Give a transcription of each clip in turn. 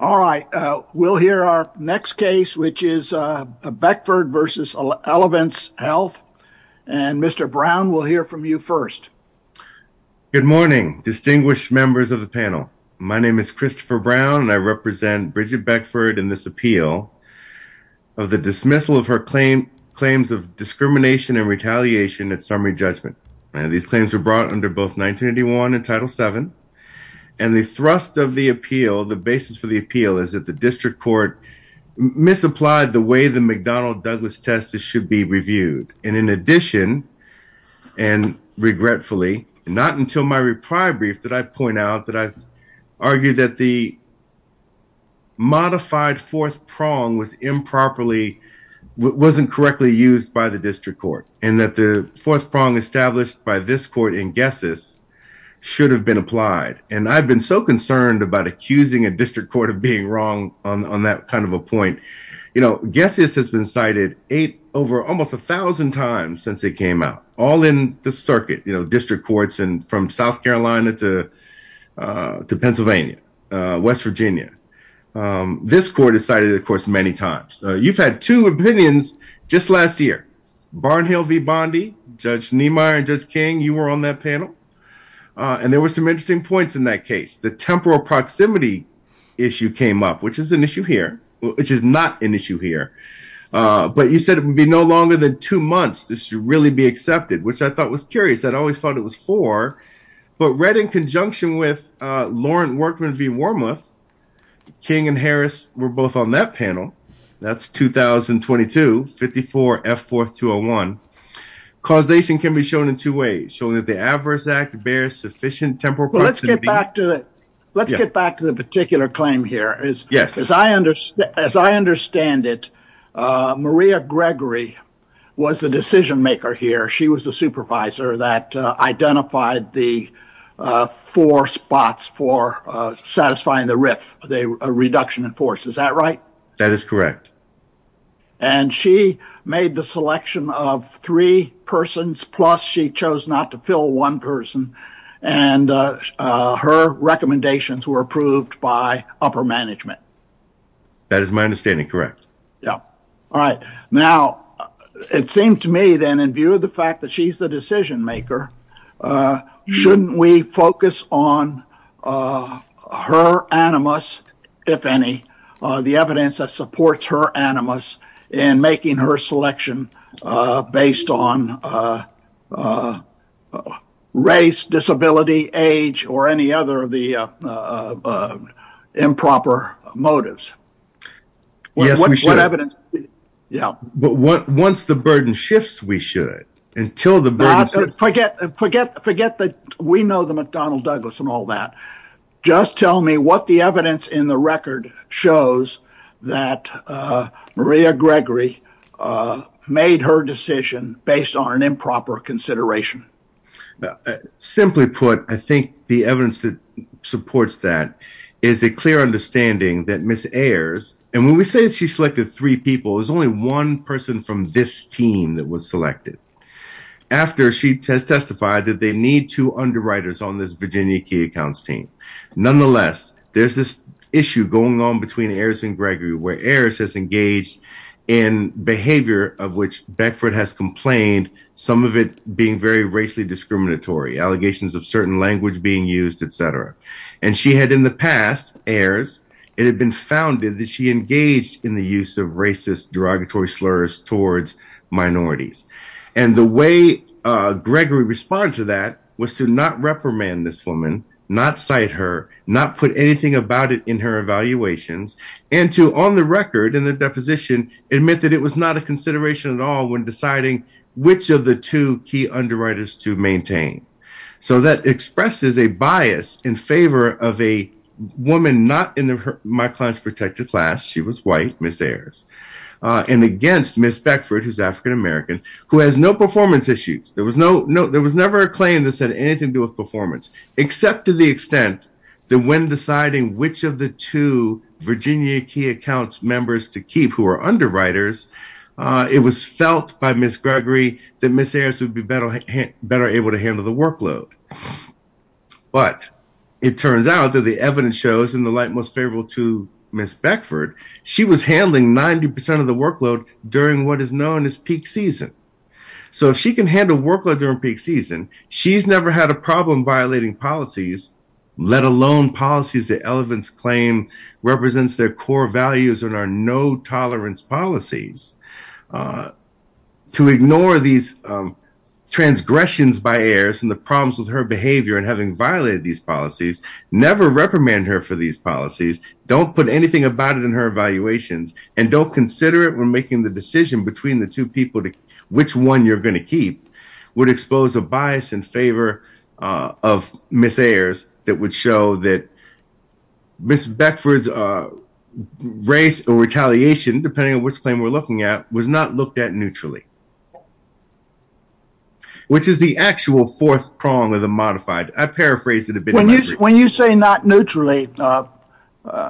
All right. We'll hear our next case, which is Beckford v. Elevance Health. And Mr. Brown, we'll hear from you first. Good morning, distinguished members of the panel. My name is Christopher Brown, and I represent Bridget Beckford in this appeal of the dismissal of her claims of discrimination and retaliation at summary judgment. These claims were brought under both 1981 and Title VII, and the thrust of the appeal, the basis for the appeal, is that the district court misapplied the way the McDonnell-Douglas test should be reviewed. And in addition, and regretfully, not until my reply brief did I point out that I argued that the modified fourth prong was improperly, wasn't correctly used by the district court, and that the fourth prong established by this court in Guessis should have been applied. And I've been so concerned about accusing a district court of being wrong on that kind of a point. You know, Guessis has been cited over almost a thousand times since it came out, all in the circuit, you know, district courts and from South Carolina to Pennsylvania, West Virginia. This court has cited it, of course, many times. You've had two opinions just last year. Barnhill v. Bondi, Judge Niemeyer and Judge King, you were on that panel, and there were some interesting points in that case. The temporal proximity issue came up, which is an issue here, which is not an issue here, but you said it would be no longer than two months this should really be accepted, which I thought was curious. I'd always thought it was four, but read in conjunction with Lauren Workman v. Wormuth, King and Harris were both on that panel. That's 2022, 54 F 4th 201. Causation can be shown in two ways, showing that the adverse act bears sufficient temporal proximity. Let's get back to the particular claim here. As I understand it, Maria Gregory was the decision maker here. She was the supervisor that identified the four spots for satisfying the RIF, the reduction in force. Is that right? That is correct. And she made the selection of three persons, plus she chose not to fill one person, and her recommendations were approved by upper management. That is my understanding, as a decision maker, shouldn't we focus on her animus, if any, the evidence that supports her animus in making her selection based on race, disability, age, or any other of the improper motives? Yes, we should. But once the burden shifts, we should. Until the burden shifts, forget that we know the McDonnell Douglas and all that. Just tell me what the evidence in the record shows that Maria Gregory made her decision based on an improper consideration. Simply put, I think the evidence that supports that is a clear understanding that Ms. Ayers, and when we say that she selected three people, it was only one person from this team that was selected. After, she has testified that they need two underwriters on this Virginia Key Accounts team. Nonetheless, there's this issue going on between Ayers and Gregory, where Ayers has engaged in behavior of which Beckford has complained, some of it being very racially discriminatory, allegations of certain language being used, etc. And she had in the past, Ayers, it had been that she engaged in the use of racist derogatory slurs towards minorities. And the way Gregory responded to that was to not reprimand this woman, not cite her, not put anything about it in her evaluations, and to, on the record, in the deposition, admit that it was not a consideration at all when deciding which of the two key underwriters to maintain. So that expresses a bias in favor of a woman not in my class, protected class, she was white, Ms. Ayers, and against Ms. Beckford, who's African American, who has no performance issues. There was no, there was never a claim that said anything to do with performance, except to the extent that when deciding which of the two Virginia Key Accounts members to keep who are underwriters, it was felt by Ms. Gregory that Ms. Ayers would be better able to handle the workload. But it turns out that the evidence shows in the light most favorable to Ms. Beckford, she was handling 90% of the workload during what is known as peak season. So if she can handle workload during peak season, she's never had a problem violating policies, let alone policies that elephants claim represents their core values and are no tolerance policies. To ignore these transgressions by Ayers and the problems with her behavior and having violated these policies, never reprimand her for these policies, don't put anything about it in her evaluations, and don't consider it when making the decision between the two people which one you're going to keep would expose a bias in favor of Ms. Ayers that would show that Ms. Beckford's race or retaliation, depending on which claim we're looking at, was not looked at neutrally. Which is the actual fourth prong of the modified. I paraphrased it a bit. When you say not neutrally,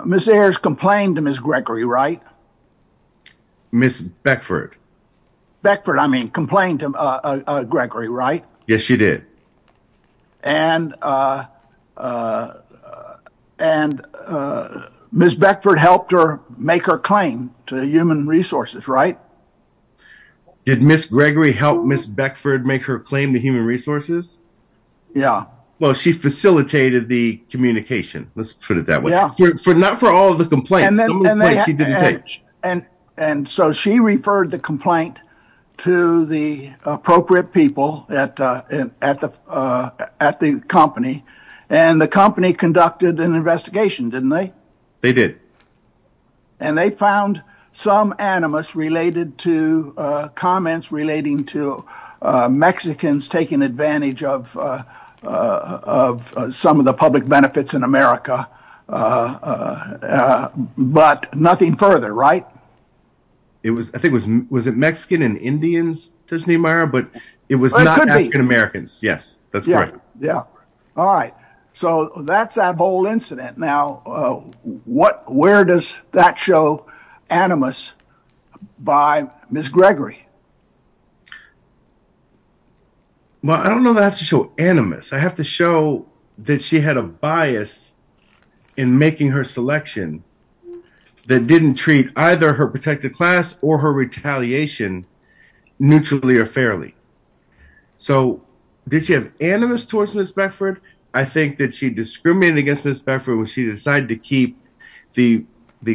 Ms. Ayers complained to Ms. Gregory, right? Ms. Beckford. Beckford, I mean, complained to Gregory, right? Yes, she did. And Ms. Beckford helped her make her claim to human resources, right? Yeah. Did Ms. Gregory help Ms. Beckford make her claim to human resources? Yeah. Well, she facilitated the communication, let's put it that way. Yeah. Not for all of the complaints, some of the complaints she didn't take. And so she referred the complaint to the appropriate people at the company, and the company conducted an investigation, didn't they? They did. And they found some animus related to comments relating to Mexicans taking advantage of some of the public benefits in America. But nothing further, right? It was, I think, was it Mexican and Indians, Disney Meyer, but it was not African Americans. Yes, that's correct. Yeah. All right. So that's that whole incident. Now, where does that show animus by Ms. Gregory? Well, I don't know that to show animus. I have to show that she had a bias in making her selection that didn't treat either her protected class or her retaliation neutrally or fairly. So did she have animus towards Ms. Beckford? I think that she discriminated against Ms. Beckford when she decided to keep the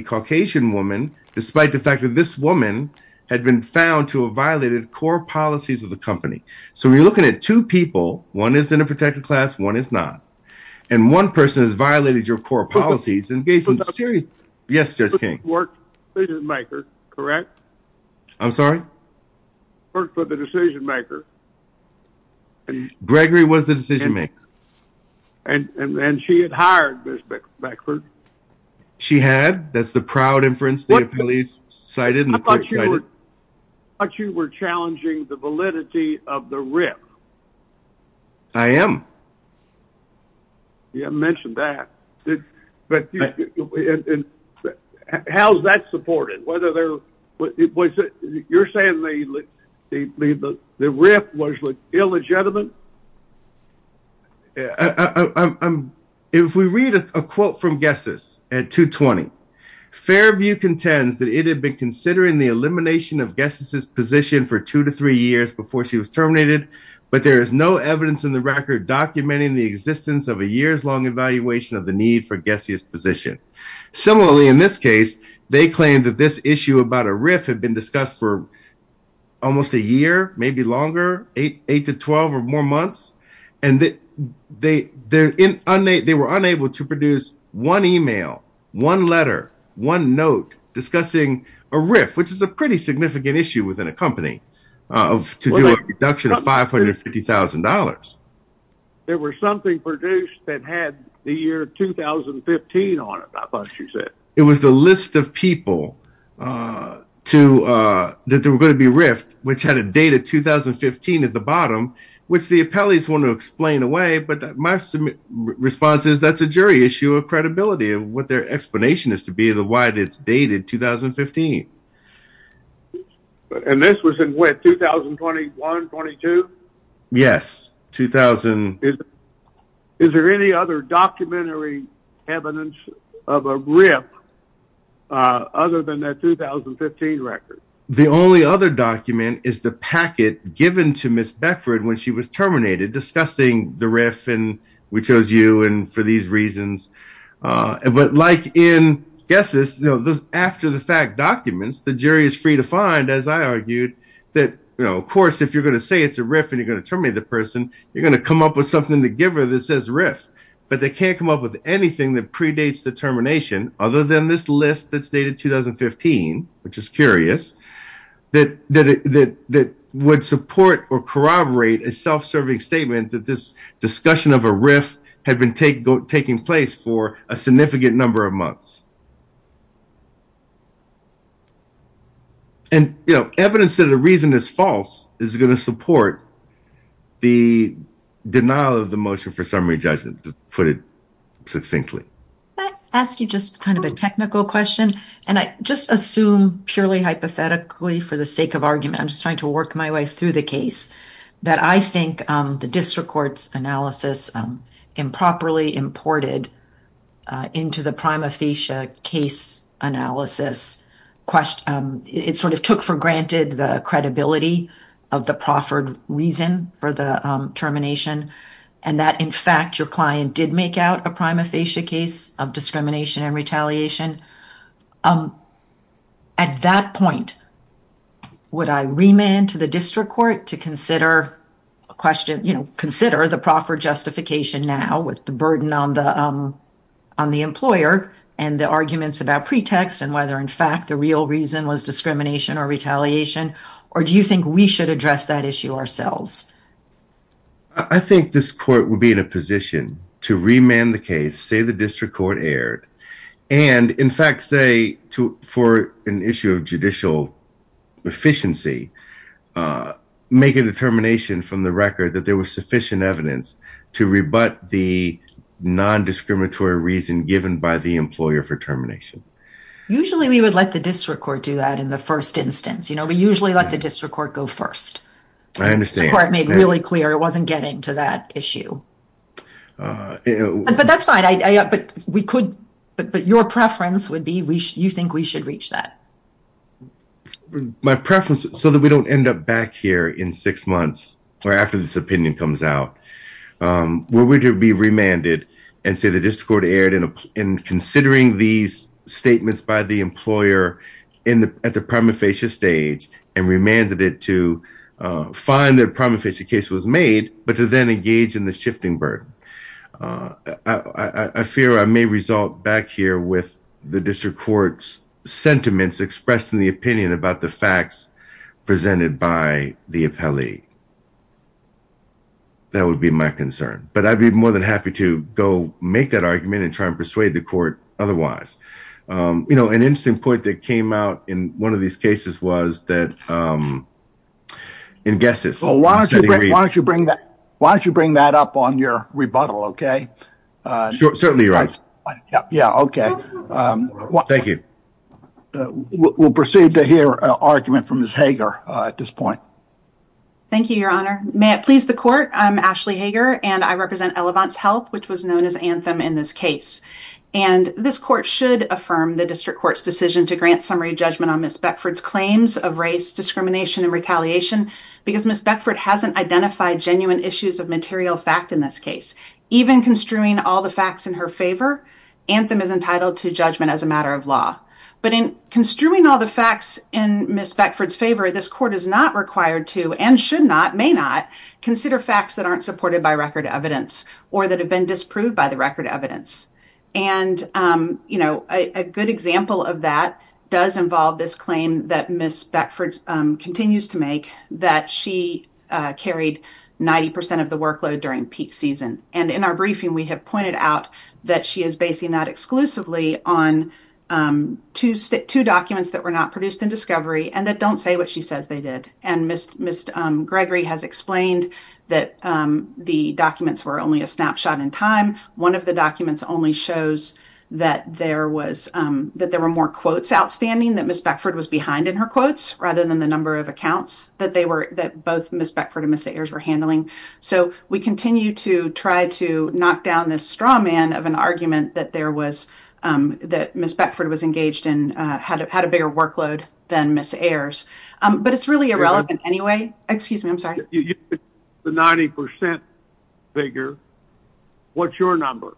Caucasian woman, despite the fact that this woman had been found to have violated core policies of the company. So we're looking at two people. One is in a protected class. One is not. And one person has violated your core policies. Yes, Judge King. I'm sorry? Gregory was the decision maker. Gregory was the decision maker. And then she had hired Ms. Beckford. She had. That's the proud inference the appellees cited. I thought you were challenging the validity of the RIF. I am. You haven't mentioned that. How's that supported? You're saying the RIF was illegitimate? I'm... If we read a quote from Gessis at 2.20, Fairview contends that it had been considering the elimination of Gessis' position for two to three years before she was terminated, but there is no evidence in the record documenting the existence of a years-long evaluation of the need for Gessis' position. Similarly, in this case, they claim that this issue about a RIF had been discussed for almost a year, maybe longer, eight to 12 or more months. And they were unable to produce one email, one letter, one note discussing a RIF, which is a pretty significant issue within a company, to do a deduction of $550,000. There was something produced that had the year 2015 on it, I thought you said. It was the list of people that were going to be RIFed, which had a date of 2015 at the bottom, which the appellees want to explain away, but my response is that's a jury issue of credibility and what their explanation is to be the why it's dated 2015. And this was in what, 2021, 22? Yes, 2000. Is there any other documentary evidence of a RIF other than that 2015 record? The only other document is the packet given to Ms. Beckford when she was terminated, discussing the RIF and we chose you for these reasons. But like in Gessis, after the fact documents, the jury is free to find, as I argued, that, of course, if you're going to say it's a RIF and you're going to terminate the person, you're going to come up with something to give her that says RIF. But they can't come up with anything that predates the termination, other than this list that's dated 2015, which is curious, that would support or corroborate a self-serving statement that this discussion of a RIF had been taking place for a significant number of months. And evidence that a reason is false is going to support the denial of the motion for summary judgment, to put it succinctly. Can I ask you just kind of a technical question? And I just assume, purely hypothetically, for the sake of argument, I'm just trying to work my way through the case, that I think the district court's analysis improperly imported into the prima facie case analysis, it sort of took for granted the credibility of the proffered reason for the termination. And that, in fact, your client did make out a prima facie case of discrimination and retaliation. At that point, would I remand to the district court to consider the proffered justification now with the burden on the employer and the arguments about pretext and whether, in fact, the real reason was discrimination or retaliation? Or do you think we should address that issue ourselves? I think this court would be in a position to remand the case, say the district court erred, and, in fact, say for an issue of judicial efficiency, make a determination from the record that there was sufficient evidence to rebut the non-discriminatory reason given by the employer for termination. Usually we would let the district court do that in the first instance. You know, we usually let the district court go first. I understand. The court made really clear it wasn't getting to that issue. But that's fine. But your preference would be you think we should reach that. My preference, so that we don't end up back here in six months or after this opinion comes out, would we be remanded and say the district court erred in considering these statements by the employer at the prima facie stage and remanded it to find that a prima facie case was made but to then engage in the shifting burden? I fear I may result back here with the district court's sentiments expressed in the opinion about the facts presented by the appellee. That would be my concern. But I'd be more than happy to go make that argument and try and persuade the court otherwise. You know, an interesting point that came out in one of these cases was that in guesses. So why don't you bring that up on your rebuttal, okay? Certainly right. Yeah, okay. Thank you. We'll proceed to hear an argument from Ms. Hager at this point. Thank you, your honor. May it please the court, I'm Ashley Hager and I represent Elevance Health which was known as Anthem in this case. And this court should affirm the district court's decision to grant summary judgment on Ms. Beckford's claims of race, discrimination, and retaliation because Ms. Beckford hasn't identified genuine issues of material fact in this case. Even construing all the facts in her favor, Anthem is entitled to judgment as a matter of law. But in construing all the facts in Ms. Beckford's favor, this court is not required to and should not, may not, consider facts that aren't supported by record evidence or that have been disproved by the record evidence. And, you know, a good example of that does involve this claim that Ms. Beckford continues to make that she carried 90% of the workload during peak season. And in our briefing we have pointed out that she is basing that exclusively on two documents that were not produced in discovery and that don't say what she says they did. And Ms. Gregory has explained that the documents were only a snapshot in time. One of the documents only shows that there was, that there were more quotes outstanding that Ms. Beckford was behind in her quotes rather than the number of accounts that they were, that both Ms. Beckford and Ms. Ayers were handling. So we continue to try to knock down this straw man of an argument that there was, that Ms. Beckford was engaged in, had a bigger workload than Ms. Ayers. But it's really irrelevant anyway. Excuse me, I'm sorry. The 90% figure, what's your number?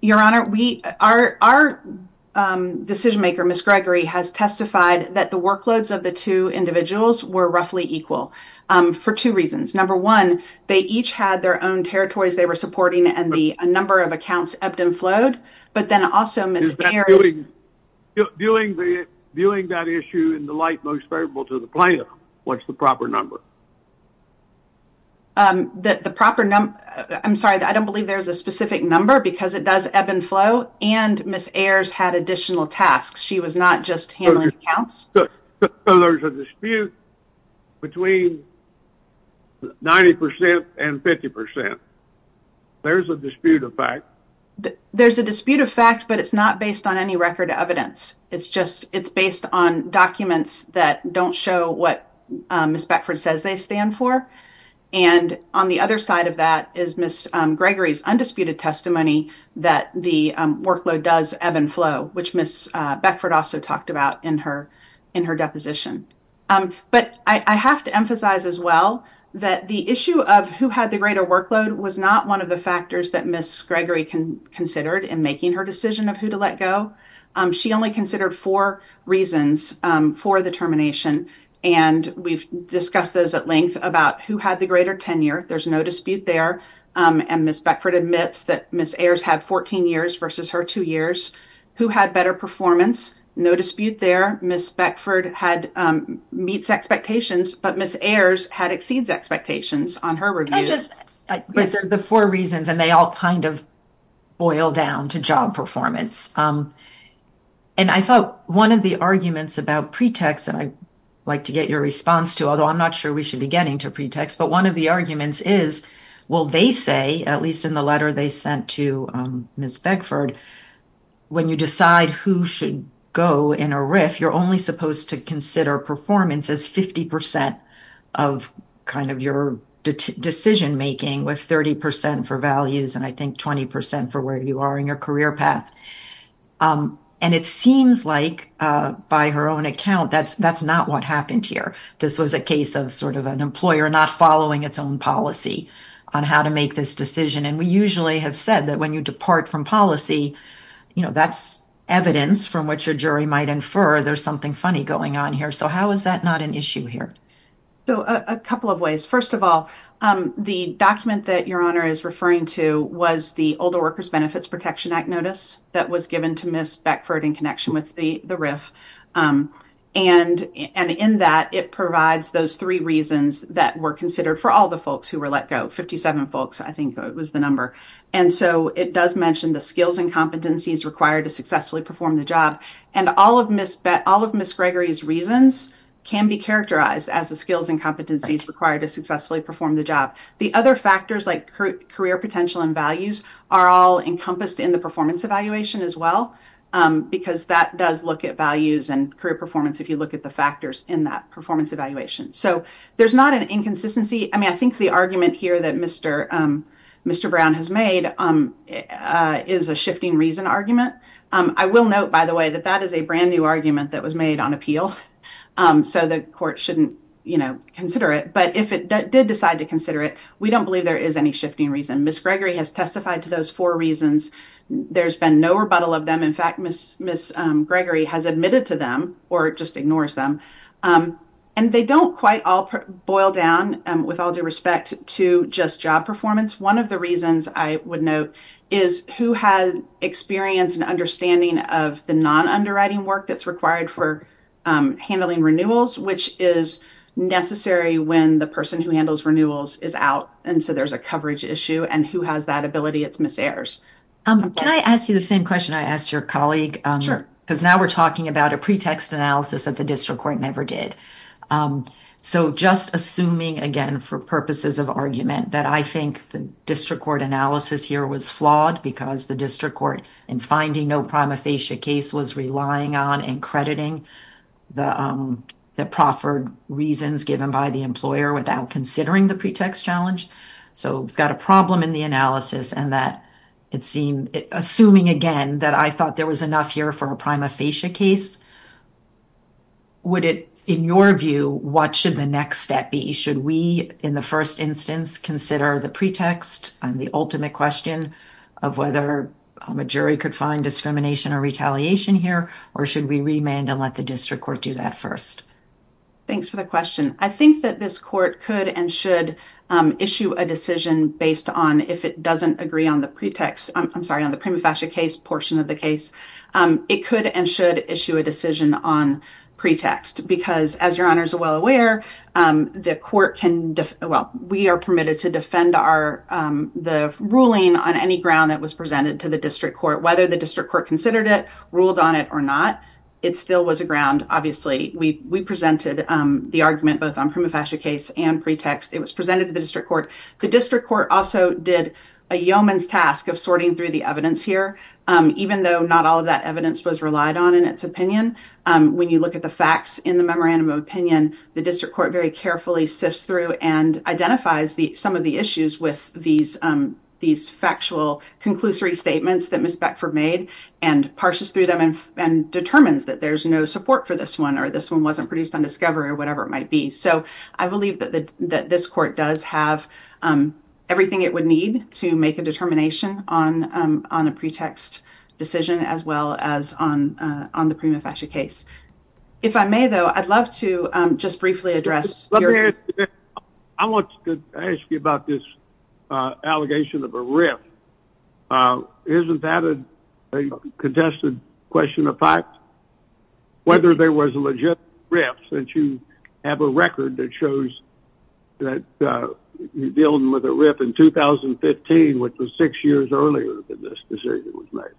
Your Honor, we, our decision maker, Ms. Gregory, has testified that the workloads of the two individuals were roughly equal for two reasons. Number one, they each had their own territories they were supporting and the number of accounts ebbed and flowed. But then also Ms. Ayers... Viewing that issue in the light most favorable to the plaintiff, what's the proper number? The proper number, I'm sorry, I don't believe there's a specific number because it does ebb and flow and Ms. Ayers had additional tasks. She was not just handling accounts. So there's a dispute between 90% and 50%. There's a dispute of fact. There's a dispute of fact, but it's not based on any record evidence. It's based on documents that don't show what Ms. Beckford says they stand for. And on the other side of that is Ms. Gregory's undisputed testimony that the workload does ebb and flow, which Ms. Beckford also talked about in her deposition. But I have to emphasize as well that the issue of who had the greater workload was not one of the factors that Ms. Gregory considered in making her decision of who to let go. She only considered four reasons for the termination. And we've discussed those at length about who had the greater tenure. There's no dispute there. And Ms. Beckford admits that Ms. Ayers had 14 years versus her two years. Who had better performance? No dispute there. Ms. Beckford meets expectations, but Ms. Ayers had exceeds expectations on her review. Can I just... But they're the four reasons and they all kind of boil down to job performance. And I thought one of the arguments about pretext, and I'd like to get your response to, although I'm not sure we should be getting to pretext, but one of the arguments is, well, they say, at least in the letter they sent to Ms. Beckford, when you decide who should go in a RIF, you're only supposed to consider performance as 50% of kind of your decision-making with 30% for values and I think 20% for where you are in your career path. And it seems like, by her own account, that's not what happened here. This was a case of sort of an employer not following its own policy on how to make this decision. And we usually have said that when you depart from policy, that's evidence from which a jury might infer there's something funny going on here. So how is that not an issue here? So a couple of ways. First of all, the document that Your Honor is referring to was the Older Workers Benefits Protection Act notice that was given to Ms. Beckford in connection with the RIF. And in that, it provides those three reasons that were considered for all the folks who were let go, 57 folks, I think was the number. And so it does mention the skills and competencies required to successfully perform the job. And all of Ms. Gregory's reasons can be characterized as the skills and competencies required to successfully perform the job. The other factors like career potential and values are all encompassed in the performance evaluation as well, because that does look at values and career performance if you look at the factors in that performance evaluation. So there's not an inconsistency. I mean, I think the argument here that Mr. Brown has made is a shifting reason argument. I will note, by the way, that that is a brand new argument that was made on appeal. So the court shouldn't consider it. But if it did decide to consider it, we don't believe there is any shifting reason. Ms. Gregory has testified to those four reasons. There's been no rebuttal of them. In fact, Ms. Gregory has admitted to them or just ignores them. And they don't quite all boil down with all due respect to just job performance. One of the reasons I would note is who has experience and understanding of the non-underwriting work that's required for handling renewals, which is necessary when the person who handles renewals is out. And so there's a coverage issue. And who has that ability? It's Ms. Ayers. Can I ask you the same question I asked your colleague? Because now we're talking about a pretext analysis that the district court never did. So just assuming, again, for purposes of argument, that I think the district court analysis here was flawed because the district court, in finding no prima facie case, was relying on and crediting the proffered reasons given by the employer without considering the pretext challenge. So we've got a problem in the analysis. And assuming, again, that I thought there was enough here for a prima facie case, would it, in your view, what should the next step be? Should we, in the first instance, consider the pretext and the ultimate question of whether a jury could find discrimination or retaliation here? Or should we remand and let the district court do that first? Thanks for the question. I think that this court could and should issue a decision based on if it doesn't agree on the pretext. I'm sorry, on the prima facie case portion of the case. It could and should issue a decision on pretext. Because as your honors are well aware, the court can, well, we are permitted to defend the ruling on any ground that was presented to the district court, whether the district court considered it, ruled on it or not. It still was a ground, obviously. We presented the argument both on prima facie case and pretext. It was presented to the district court. The district court also did a yeoman's task of sorting through the evidence here, even though not all of that evidence was relied on in its opinion. When you look at the facts in the memorandum of opinion, the district court very carefully sifts through and identifies some of the issues with these factual conclusory statements that Ms. Beckford made and parses through them and determines that there's no support for this one or this one wasn't produced on discovery or whatever it might be. So I believe that this court does have everything it would need to make a determination on a prima facie case. If I may, though, I'd love to just briefly address. I want to ask you about this allegation of a rip. Isn't that a contested question of fact? Whether there was a legit rip since you have a record that shows that you deal with a rip in 2015, which was six years earlier than this decision was made.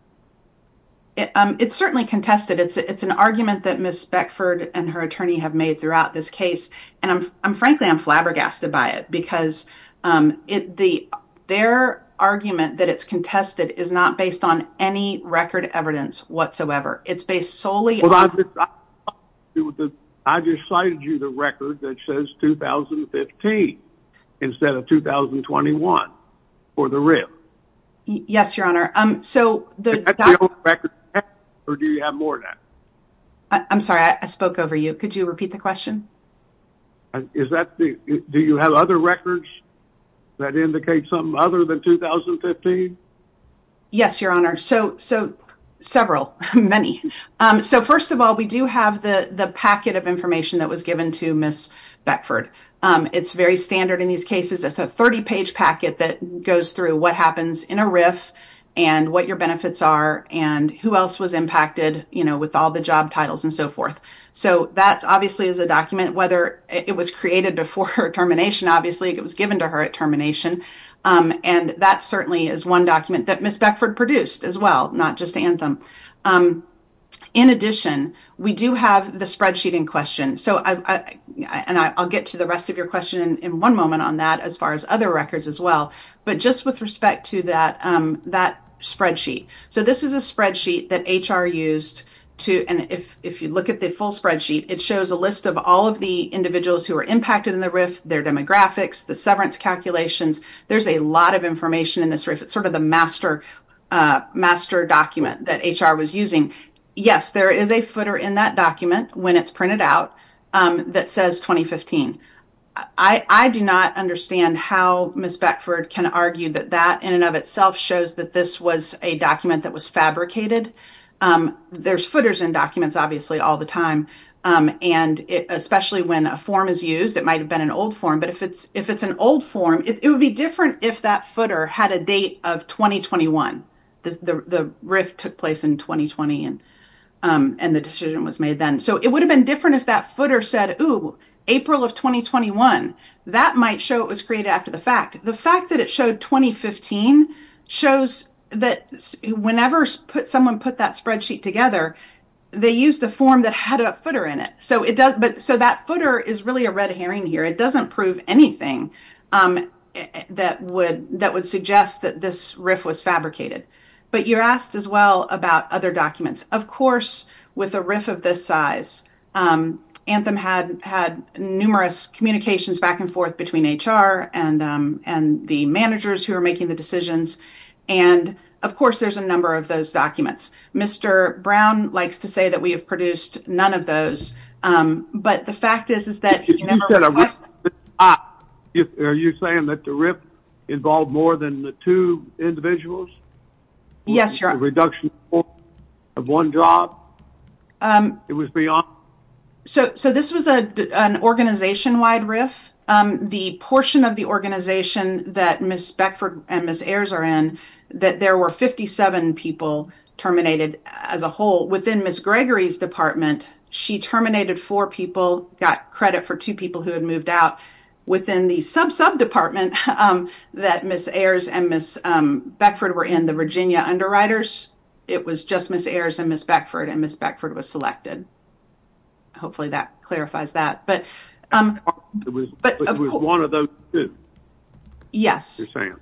It's certainly contested. It's an argument that Ms. Beckford and her attorney have made throughout this case. And I'm frankly, I'm flabbergasted by it because their argument that it's contested is not based on any record evidence whatsoever. It's based solely on- Well, I just cited you the record that says 2015 instead of 2021 for the rip. Yes, Your Honor. Is that the only record you have or do you have more than that? I'm sorry, I spoke over you. Could you repeat the question? Do you have other records that indicate something other than 2015? Yes, Your Honor. Several, many. So first of all, we do have the packet of information that was given to Ms. Beckford. It's very standard in these cases. It's a 30-page packet that goes through what happens in a riff and what your benefits are and who else was impacted with all the job titles and so forth. So that obviously is a document, whether it was created before her termination. Obviously, it was given to her at termination. And that certainly is one document that Ms. Beckford produced as well, not just Anthem. In addition, we do have the spreadsheet in question. And I'll get to the rest of your question in one moment on that as far as other records as well. But just with respect to that spreadsheet. So this is a spreadsheet that HR used to, and if you look at the full spreadsheet, it shows a list of all of the individuals who were impacted in the rift, their demographics, the severance calculations. There's a lot of information in this rift. It's sort of the master document that HR was using. Yes, there is a footer in that document when it's printed out that says 2015. I do not understand how Ms. Beckford can argue that that in and of itself shows that this was a document that was fabricated. There's footers in documents, obviously, all the time. And especially when a form is used, it might have been an old form. But if it's an old form, it would be different if that footer had a date of 2021. The rift took place in 2020, and the decision was made then. So it would have been different if that footer said, oh, April of 2021. That might show it was created after the fact. The fact that it showed 2015 shows that whenever someone put that spreadsheet together, they used the form that had a footer in it. So that footer is really a red herring here. It doesn't prove anything that would suggest that this rift was fabricated. But you're asked as well about other documents. Of course, with a rift of this size, Anthem had numerous communications back and forth between HR and the managers who are making the decisions. And of course, there's a number of those documents. Mr. Brown likes to say that we have produced none of those. But the fact is, is that he never requested it. If you said a rift this size, are you saying that the rift involved more than the two individuals? Yes, Your Honor. The reduction of one job? It was beyond? So this was an organization-wide rift. The portion of the organization that Ms. Beckford and Ms. Ayers are in, that there were 57 people terminated as a whole. Within Ms. Gregory's department, she terminated four people, got credit for two people who had moved out. Within the sub-sub department that Ms. Ayers and Ms. Beckford were in, the Virginia underwriters, it was just Ms. Ayers and Ms. Beckford, and Ms. Beckford was selected. Hopefully, that clarifies that. But it was one of those two? Yes. You're saying?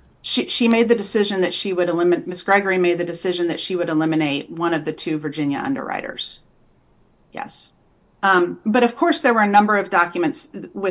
She made the decision that she would eliminate... Ms. Gregory made the decision that she would eliminate one of the two Virginia underwriters. Yes. But of course, there were a number of documents that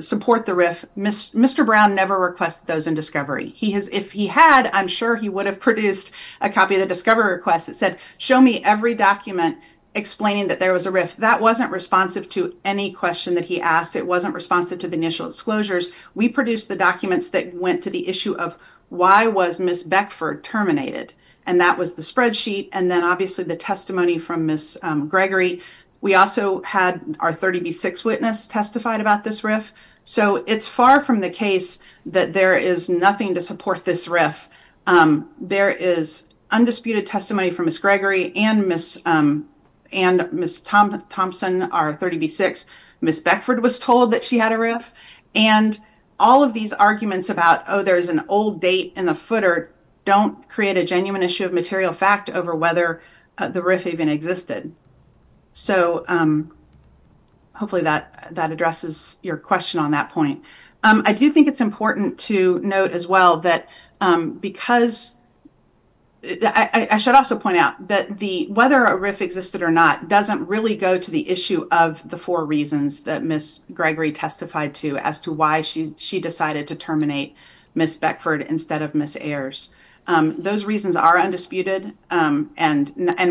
support the rift. Mr. Brown never requested those in discovery. If he had, I'm sure he would have produced a copy of the discovery request that said, show me every document explaining that there was a rift. That wasn't responsive to any question that he asked. It wasn't responsive to the initial disclosures. We produced the documents that went to the issue of why was Ms. Beckford terminated? And that was the spreadsheet. And then obviously the testimony from Ms. Gregory. We also had our 30B6 witness testified about this rift. So it's far from the case that there is nothing to support this rift. There is undisputed testimony from Ms. Gregory and Ms. Thompson, our 30B6. Ms. Beckford was told that she had a rift. And all of these arguments about, oh, there's an old date in the footer, don't create a genuine issue of material fact over whether the rift even existed. So hopefully that addresses your question on that point. I do think it's important to note as well that because I should also point out that the whether a rift existed or not doesn't really go to the issue of the four reasons that Ms. Gregory testified to as to why she decided to terminate Ms. Beckford instead of Ms. Ayers. Those reasons are undisputed and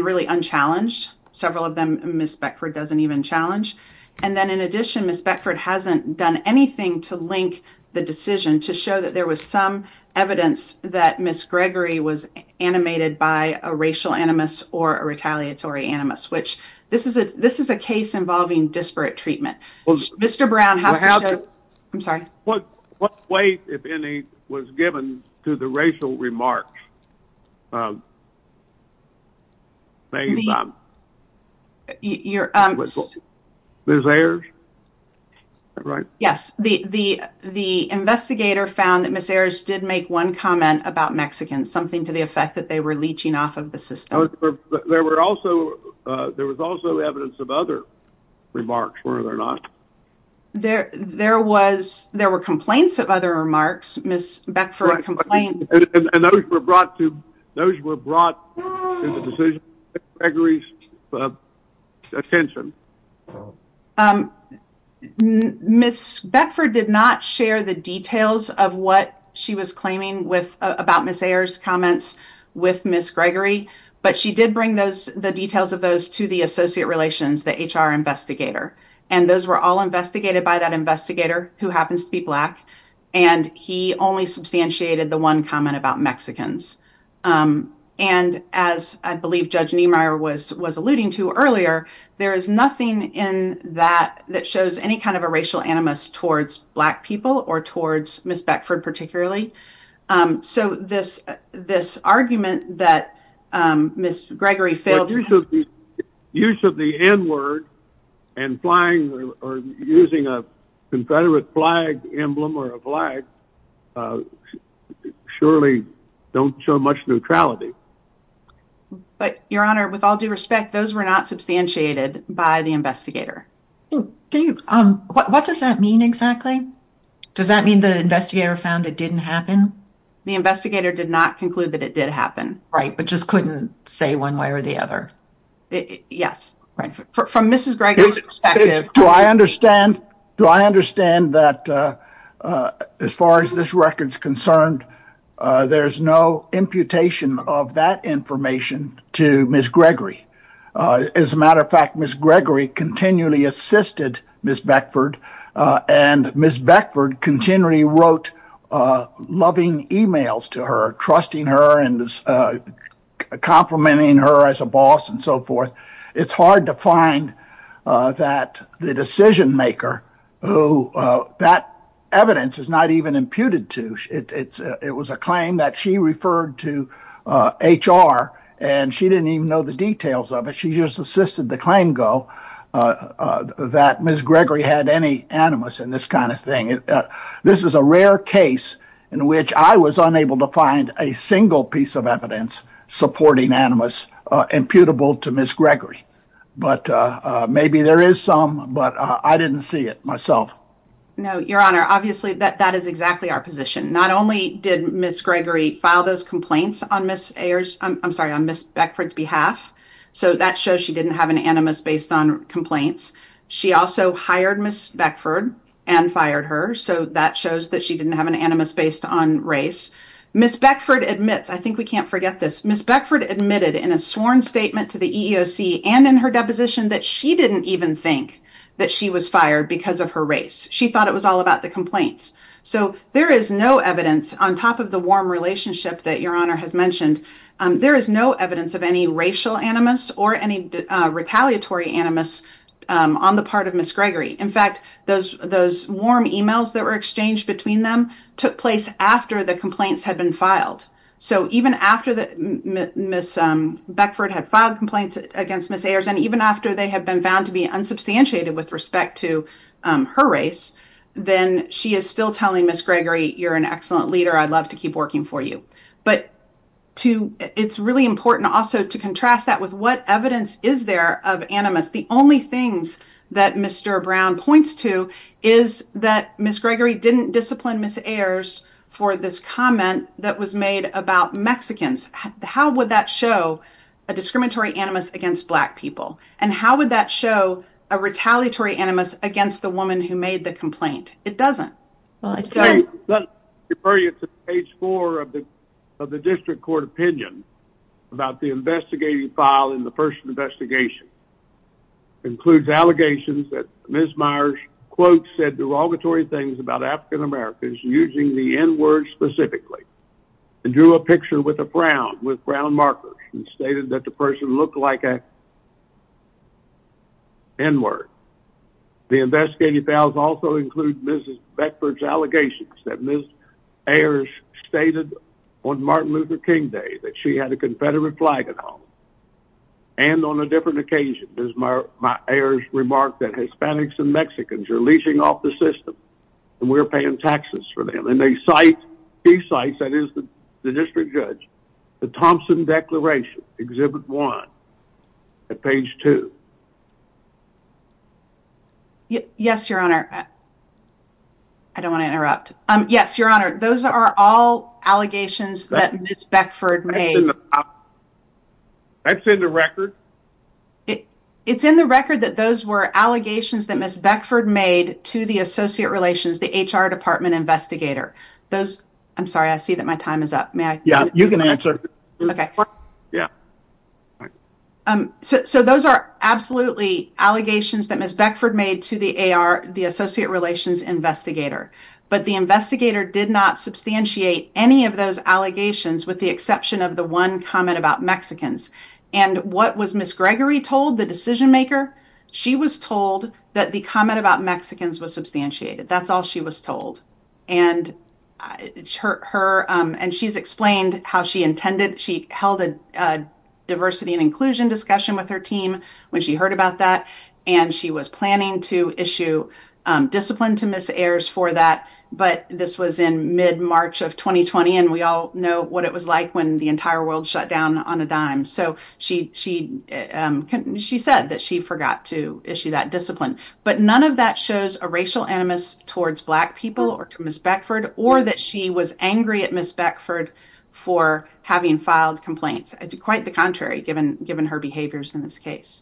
really unchallenged. Several of them Ms. Beckford doesn't even challenge. And then in addition, Ms. Beckford hasn't done anything to link the decision to show that there was some evidence that Ms. Gregory was animated by a racial animus or a retaliatory animus, which this is a case involving disparate treatment. Mr. Brown, I'm sorry. What weight, if any, was given to the racial remarks? Ms. Ayers? Yes, the investigator found that Ms. Ayers did make one comment about Mexicans, something to the effect that they were leeching off of the system. There was also evidence of other remarks, were there not? There were complaints of other remarks. Ms. Beckford complained. Those were brought to Ms. Gregory's attention. Ms. Beckford did not share the details of what she was claiming about Ms. Ayers' comments with Ms. Gregory, but she did bring the details of those to the associate relations, the HR investigator. And those were all investigated by that investigator, who happens to be Black, and he only substantiated the one comment about Mexicans. And as I believe Judge Niemeyer was alluding to earlier, there is nothing in that that shows any kind of a racial animus towards Black people or towards Ms. Beckford particularly. So, this argument that Ms. Gregory failed to use of the N-word and flying or using a Confederate flag emblem or a flag surely don't show much neutrality. But, Your Honor, with all due respect, those were not substantiated by the investigator. What does that mean exactly? Does that mean the investigator found it didn't happen? The investigator did not conclude that it did happen. Right, but just couldn't say one way or the other. Yes. From Ms. Gregory's perspective. Do I understand that as far as this record's concerned, there's no imputation of that information to Ms. Gregory? As a matter of fact, Ms. Gregory continually assisted Ms. Beckford, and Ms. Beckford continually wrote loving emails to her, trusting her and complimenting her as a boss and so forth. It's hard to find that the decision maker who that evidence is not even imputed to. It was a claim that she referred to HR and she didn't even know the details of it. She just assisted the claim go that Ms. Gregory had any animus in this kind of thing. This is a rare case in which I was unable to find a single piece of evidence supporting animus imputable to Ms. Gregory. But maybe there is some, but I didn't see it myself. No, Your Honor, obviously that is exactly our position. Not only did Ms. Gregory file those complaints on Ms. Beckford's behalf, so that shows she didn't have an animus based on complaints. She also hired Ms. Beckford and fired her, so that shows that she didn't have an animus based on race. Ms. Beckford admits, I think we can't forget this, Ms. Beckford admitted in a sworn statement to the EEOC and in her deposition that she didn't even think that she was fired because of her race. She thought it was all about the complaints. So there is no evidence, on top of the warm relationship that Your Honor has mentioned, there is no evidence of any racial animus or any retaliatory animus on the part of Ms. Gregory. In fact, those warm emails that were exchanged between them took place after the complaints had been filed. So even after Ms. Beckford had filed complaints against Ms. Ayers and even after they had been found to be unsubstantiated with respect to her race, then she is still telling Ms. Gregory, you're an excellent leader, I'd love to keep working for you. But it's really important also to contrast that with what evidence is there of animus. The only things that Mr. Brown points to is that Ms. Gregory didn't discipline Ms. Ayers for this comment that was made about Mexicans. How would that show a discriminatory animus against Black people? And how would that show a retaliatory animus against the woman who made the complaint? It doesn't. Let me refer you to page four of the district court opinion about the investigative file in the first investigation. It includes allegations that Ms. Myers quote said derogatory things about African-Americans using the N-word specifically. And drew a picture with a brown, with brown markers and stated that the person looked like a N-word. The investigative files also include Mrs. Beckford's allegations that Ms. Ayers stated on Martin Luther King Day that she had a confederate flag at home. And on a different occasion, Ms. Ayers remarked that Hispanics and Mexicans are leashing off the system and we're paying taxes for them. She cites, that is the district judge, the Thompson declaration, exhibit one, at page two. Yes, your honor. I don't want to interrupt. Yes, your honor, those are all allegations that Ms. Beckford made. That's in the record? It's in the record that those were allegations that Ms. Beckford made to the associate relations, the HR department investigator. Those, I'm sorry, I see that my time is up. May I? Yeah, you can answer. Yeah. So those are absolutely allegations that Ms. Beckford made to the associate relations investigator. But the investigator did not substantiate any of those allegations with the exception of the one comment about Mexicans. And what was Ms. Gregory told, the decision maker? She was told that the comment about Mexicans was substantiated. That's all she was told. And she's explained how she intended, she held a diversity and inclusion discussion with her team when she heard about that. And she was planning to issue discipline to Ms. Ayers for that. But this was in mid-March of 2020. And we all know what it was like when the entire world shut down on a dime. So she said that she forgot to issue that discipline. But none of that shows a racial animus towards Black people or to Ms. Beckford, or that she was angry at Ms. Beckford for having filed complaints. Quite the contrary, given her behaviors in this case.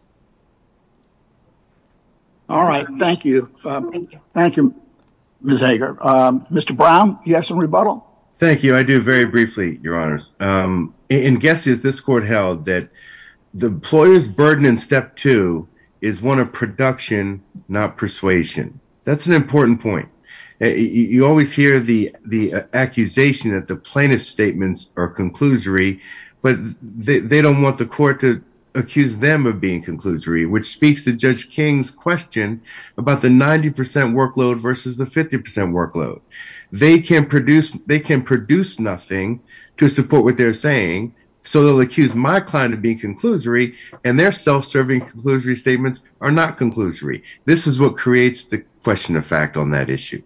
All right. Thank you. Thank you, Ms. Hager. Mr. Brown, you have some rebuttal? Thank you. I do, very briefly, your honors. In guesses, this court held that the employer's burden in step two is one of production not persuasion. That's an important point. You always hear the accusation that the plaintiff's statements are conclusory. But they don't want the court to accuse them of being conclusory, which speaks to Judge King's question about the 90% workload versus the 50% workload. They can produce nothing to support what they're saying. So they'll accuse my client of being conclusory. And their self-serving conclusory statements are not conclusory. This is what creates the question of fact on that issue.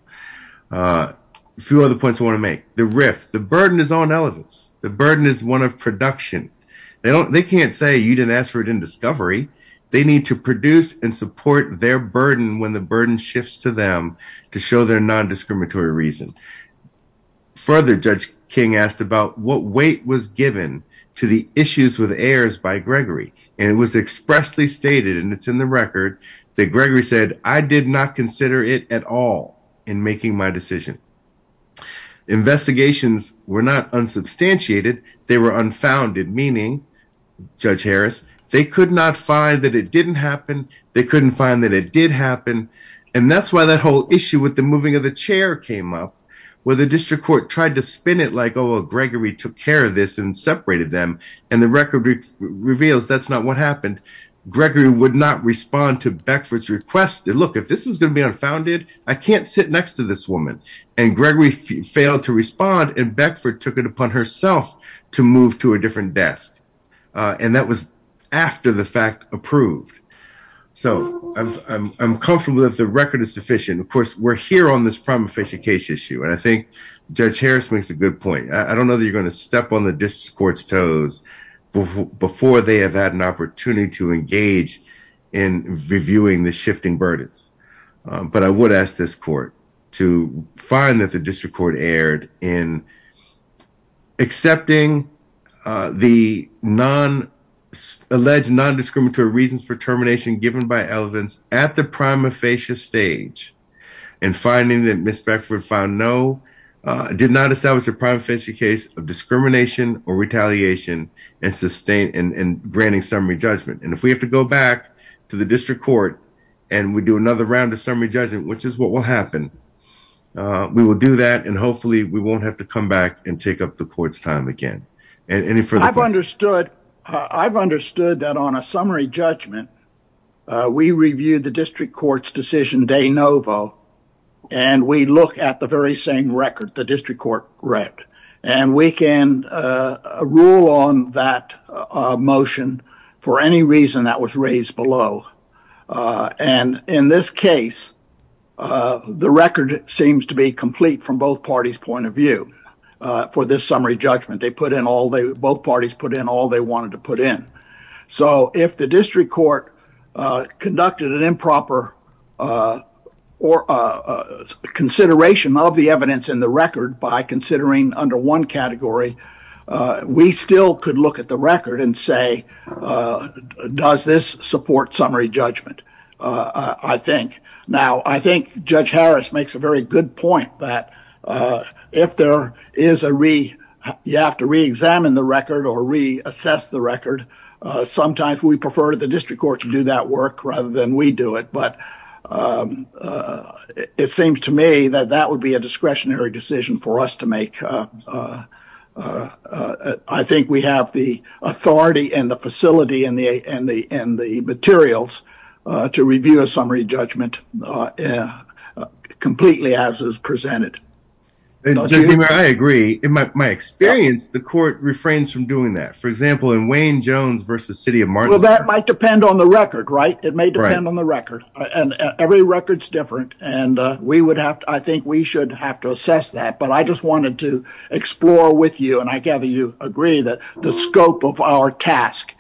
A few other points I want to make. The RIF, the burden is on elephants. The burden is one of production. They can't say you didn't ask for it in discovery. They need to produce and support their burden when the burden shifts to them to show their non-discriminatory reason. Further, Judge King asked about what weight was given to the issues with heirs by Gregory. And it was expressly stated, and it's in the record, that Gregory said, I did not consider it at all in making my decision. Investigations were not unsubstantiated. They were unfounded, meaning, Judge Harris, they could not find that it didn't happen. They couldn't find that it did happen. And that's why that whole issue with the moving of the chair came up, where the district court tried to spin it like, oh, Gregory took care of this and separated them. And the record reveals that's not what happened. Gregory would not respond to Beckford's request. Look, if this is going to be unfounded, I can't sit next to this woman. And Gregory failed to respond. And Beckford took it upon herself to move to a different desk. And that was after the fact approved. So I'm comfortable that the record is sufficient. Of course, we're here on this prima facie case issue. And I think Judge Harris makes a good point. I don't know that you're going to step on the district court's toes before they have had an opportunity to engage in reviewing the shifting burdens. But I would ask this court to find that the district court erred in accepting the non-alleged non-discriminatory reasons for termination given by Elevins at the prima facie stage and finding that Ms. Beckford found no, did not establish a prima facie case of discrimination or retaliation and sustained and granting summary judgment. And if we have to go back to the district court and we do another round of summary judgment, which is what will happen, we will do that. And hopefully we won't have to come back and take up the court's time again. I've understood that on a summary judgment, we reviewed the district court's decision de novo. And we look at the very same record the district court read. And we can rule on that motion for any reason that was raised below. And in this case, the record seems to be complete from both parties' point of view for this summary judgment. Both parties put in all they wanted to put in. So if the district court conducted an improper consideration of the evidence in the record by considering under one category, we still could look at the record and say, does this support summary judgment, I think. Now, I think Judge Harris makes a very good point that if there is a re you have to reexamine the record or reassess the record, sometimes we prefer the district court to do that work rather than we do it. But it seems to me that that would be a discretionary decision for us to make. I think we have the authority and the facility and the materials to review a summary judgment completely as is presented. And I agree. My experience, the court refrains from doing that. For example, in Wayne Jones versus City of Martin. Well, that might depend on the record, right? It may depend on the record. And every record is different. And I think we should have to assess that. But I just wanted to explore with you, and I gather you agree, that the scope of our task,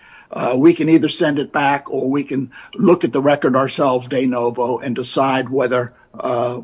we can either send it back or we can look at the record ourselves de novo and decide whether a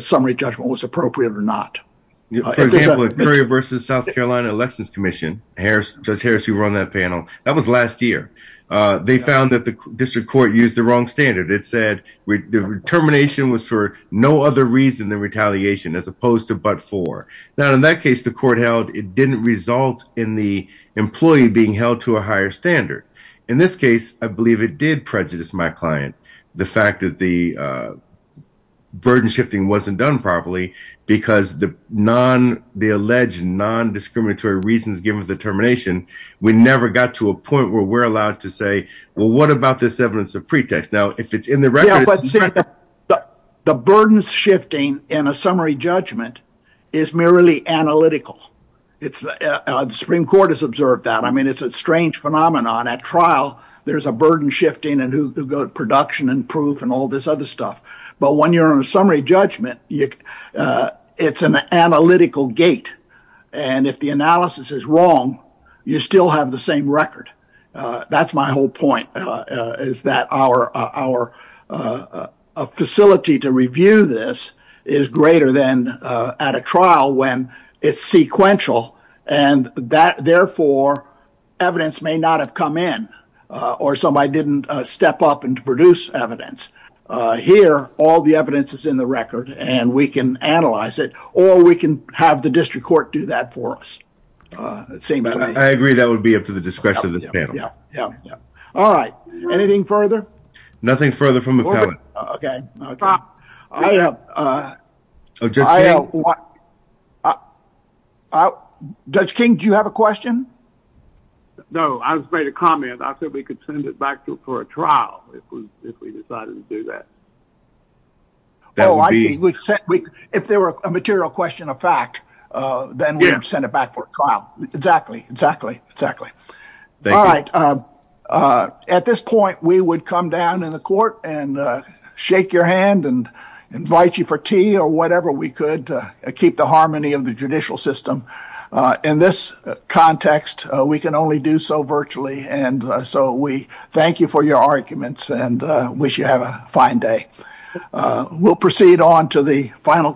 summary judgment was appropriate or not. For example, at Currier versus South Carolina Elections Commission, Judge Harris, who run that panel, that was last year. They found that the district court used the wrong standard. It said the termination was for no other reason than retaliation as opposed to but for. Now, in that case, the court held it didn't result in the employee being held to a higher standard. In this case, I believe it did prejudice my client. The fact that the burden shifting wasn't done properly because the alleged non-discriminatory reasons given the termination, we never got to a point where we're allowed to say, well, what about this evidence of pretext? Now, if it's in the record- Yeah, but see, the burden shifting in a summary judgment is merely analytical. The Supreme Court has observed that. I mean, it's a strange phenomenon. At trial, there's a burden shifting and production and proof and all this other stuff. But when you're on a summary judgment, it's an analytical gate. If the analysis is wrong, you still have the same record. That's my whole point is that our facility to review this is greater than at a trial when it's sequential. And therefore, evidence may not have come in or somebody didn't step up and produce evidence. Here, all the evidence is in the record and we can analyze it or we can have the district court do that for us. I agree that would be up to the discretion of this panel. Yeah, yeah, yeah. All right. Anything further? Nothing further from the panel. Okay, okay. I have- Judge King, do you have a question? No, I was made a comment. I said we could send it back to for a trial if we decided to do that. Oh, I see. If there were a material question of fact, then we would send it back for a trial. Exactly, exactly, exactly. All right. At this point, we would come down in the court and shake your hand and invite you for tea or whatever we could to keep the harmony of the judicial system. In this context, we can only do so virtually. And so we thank you for your arguments and wish you have a fine day. We'll proceed on to the final-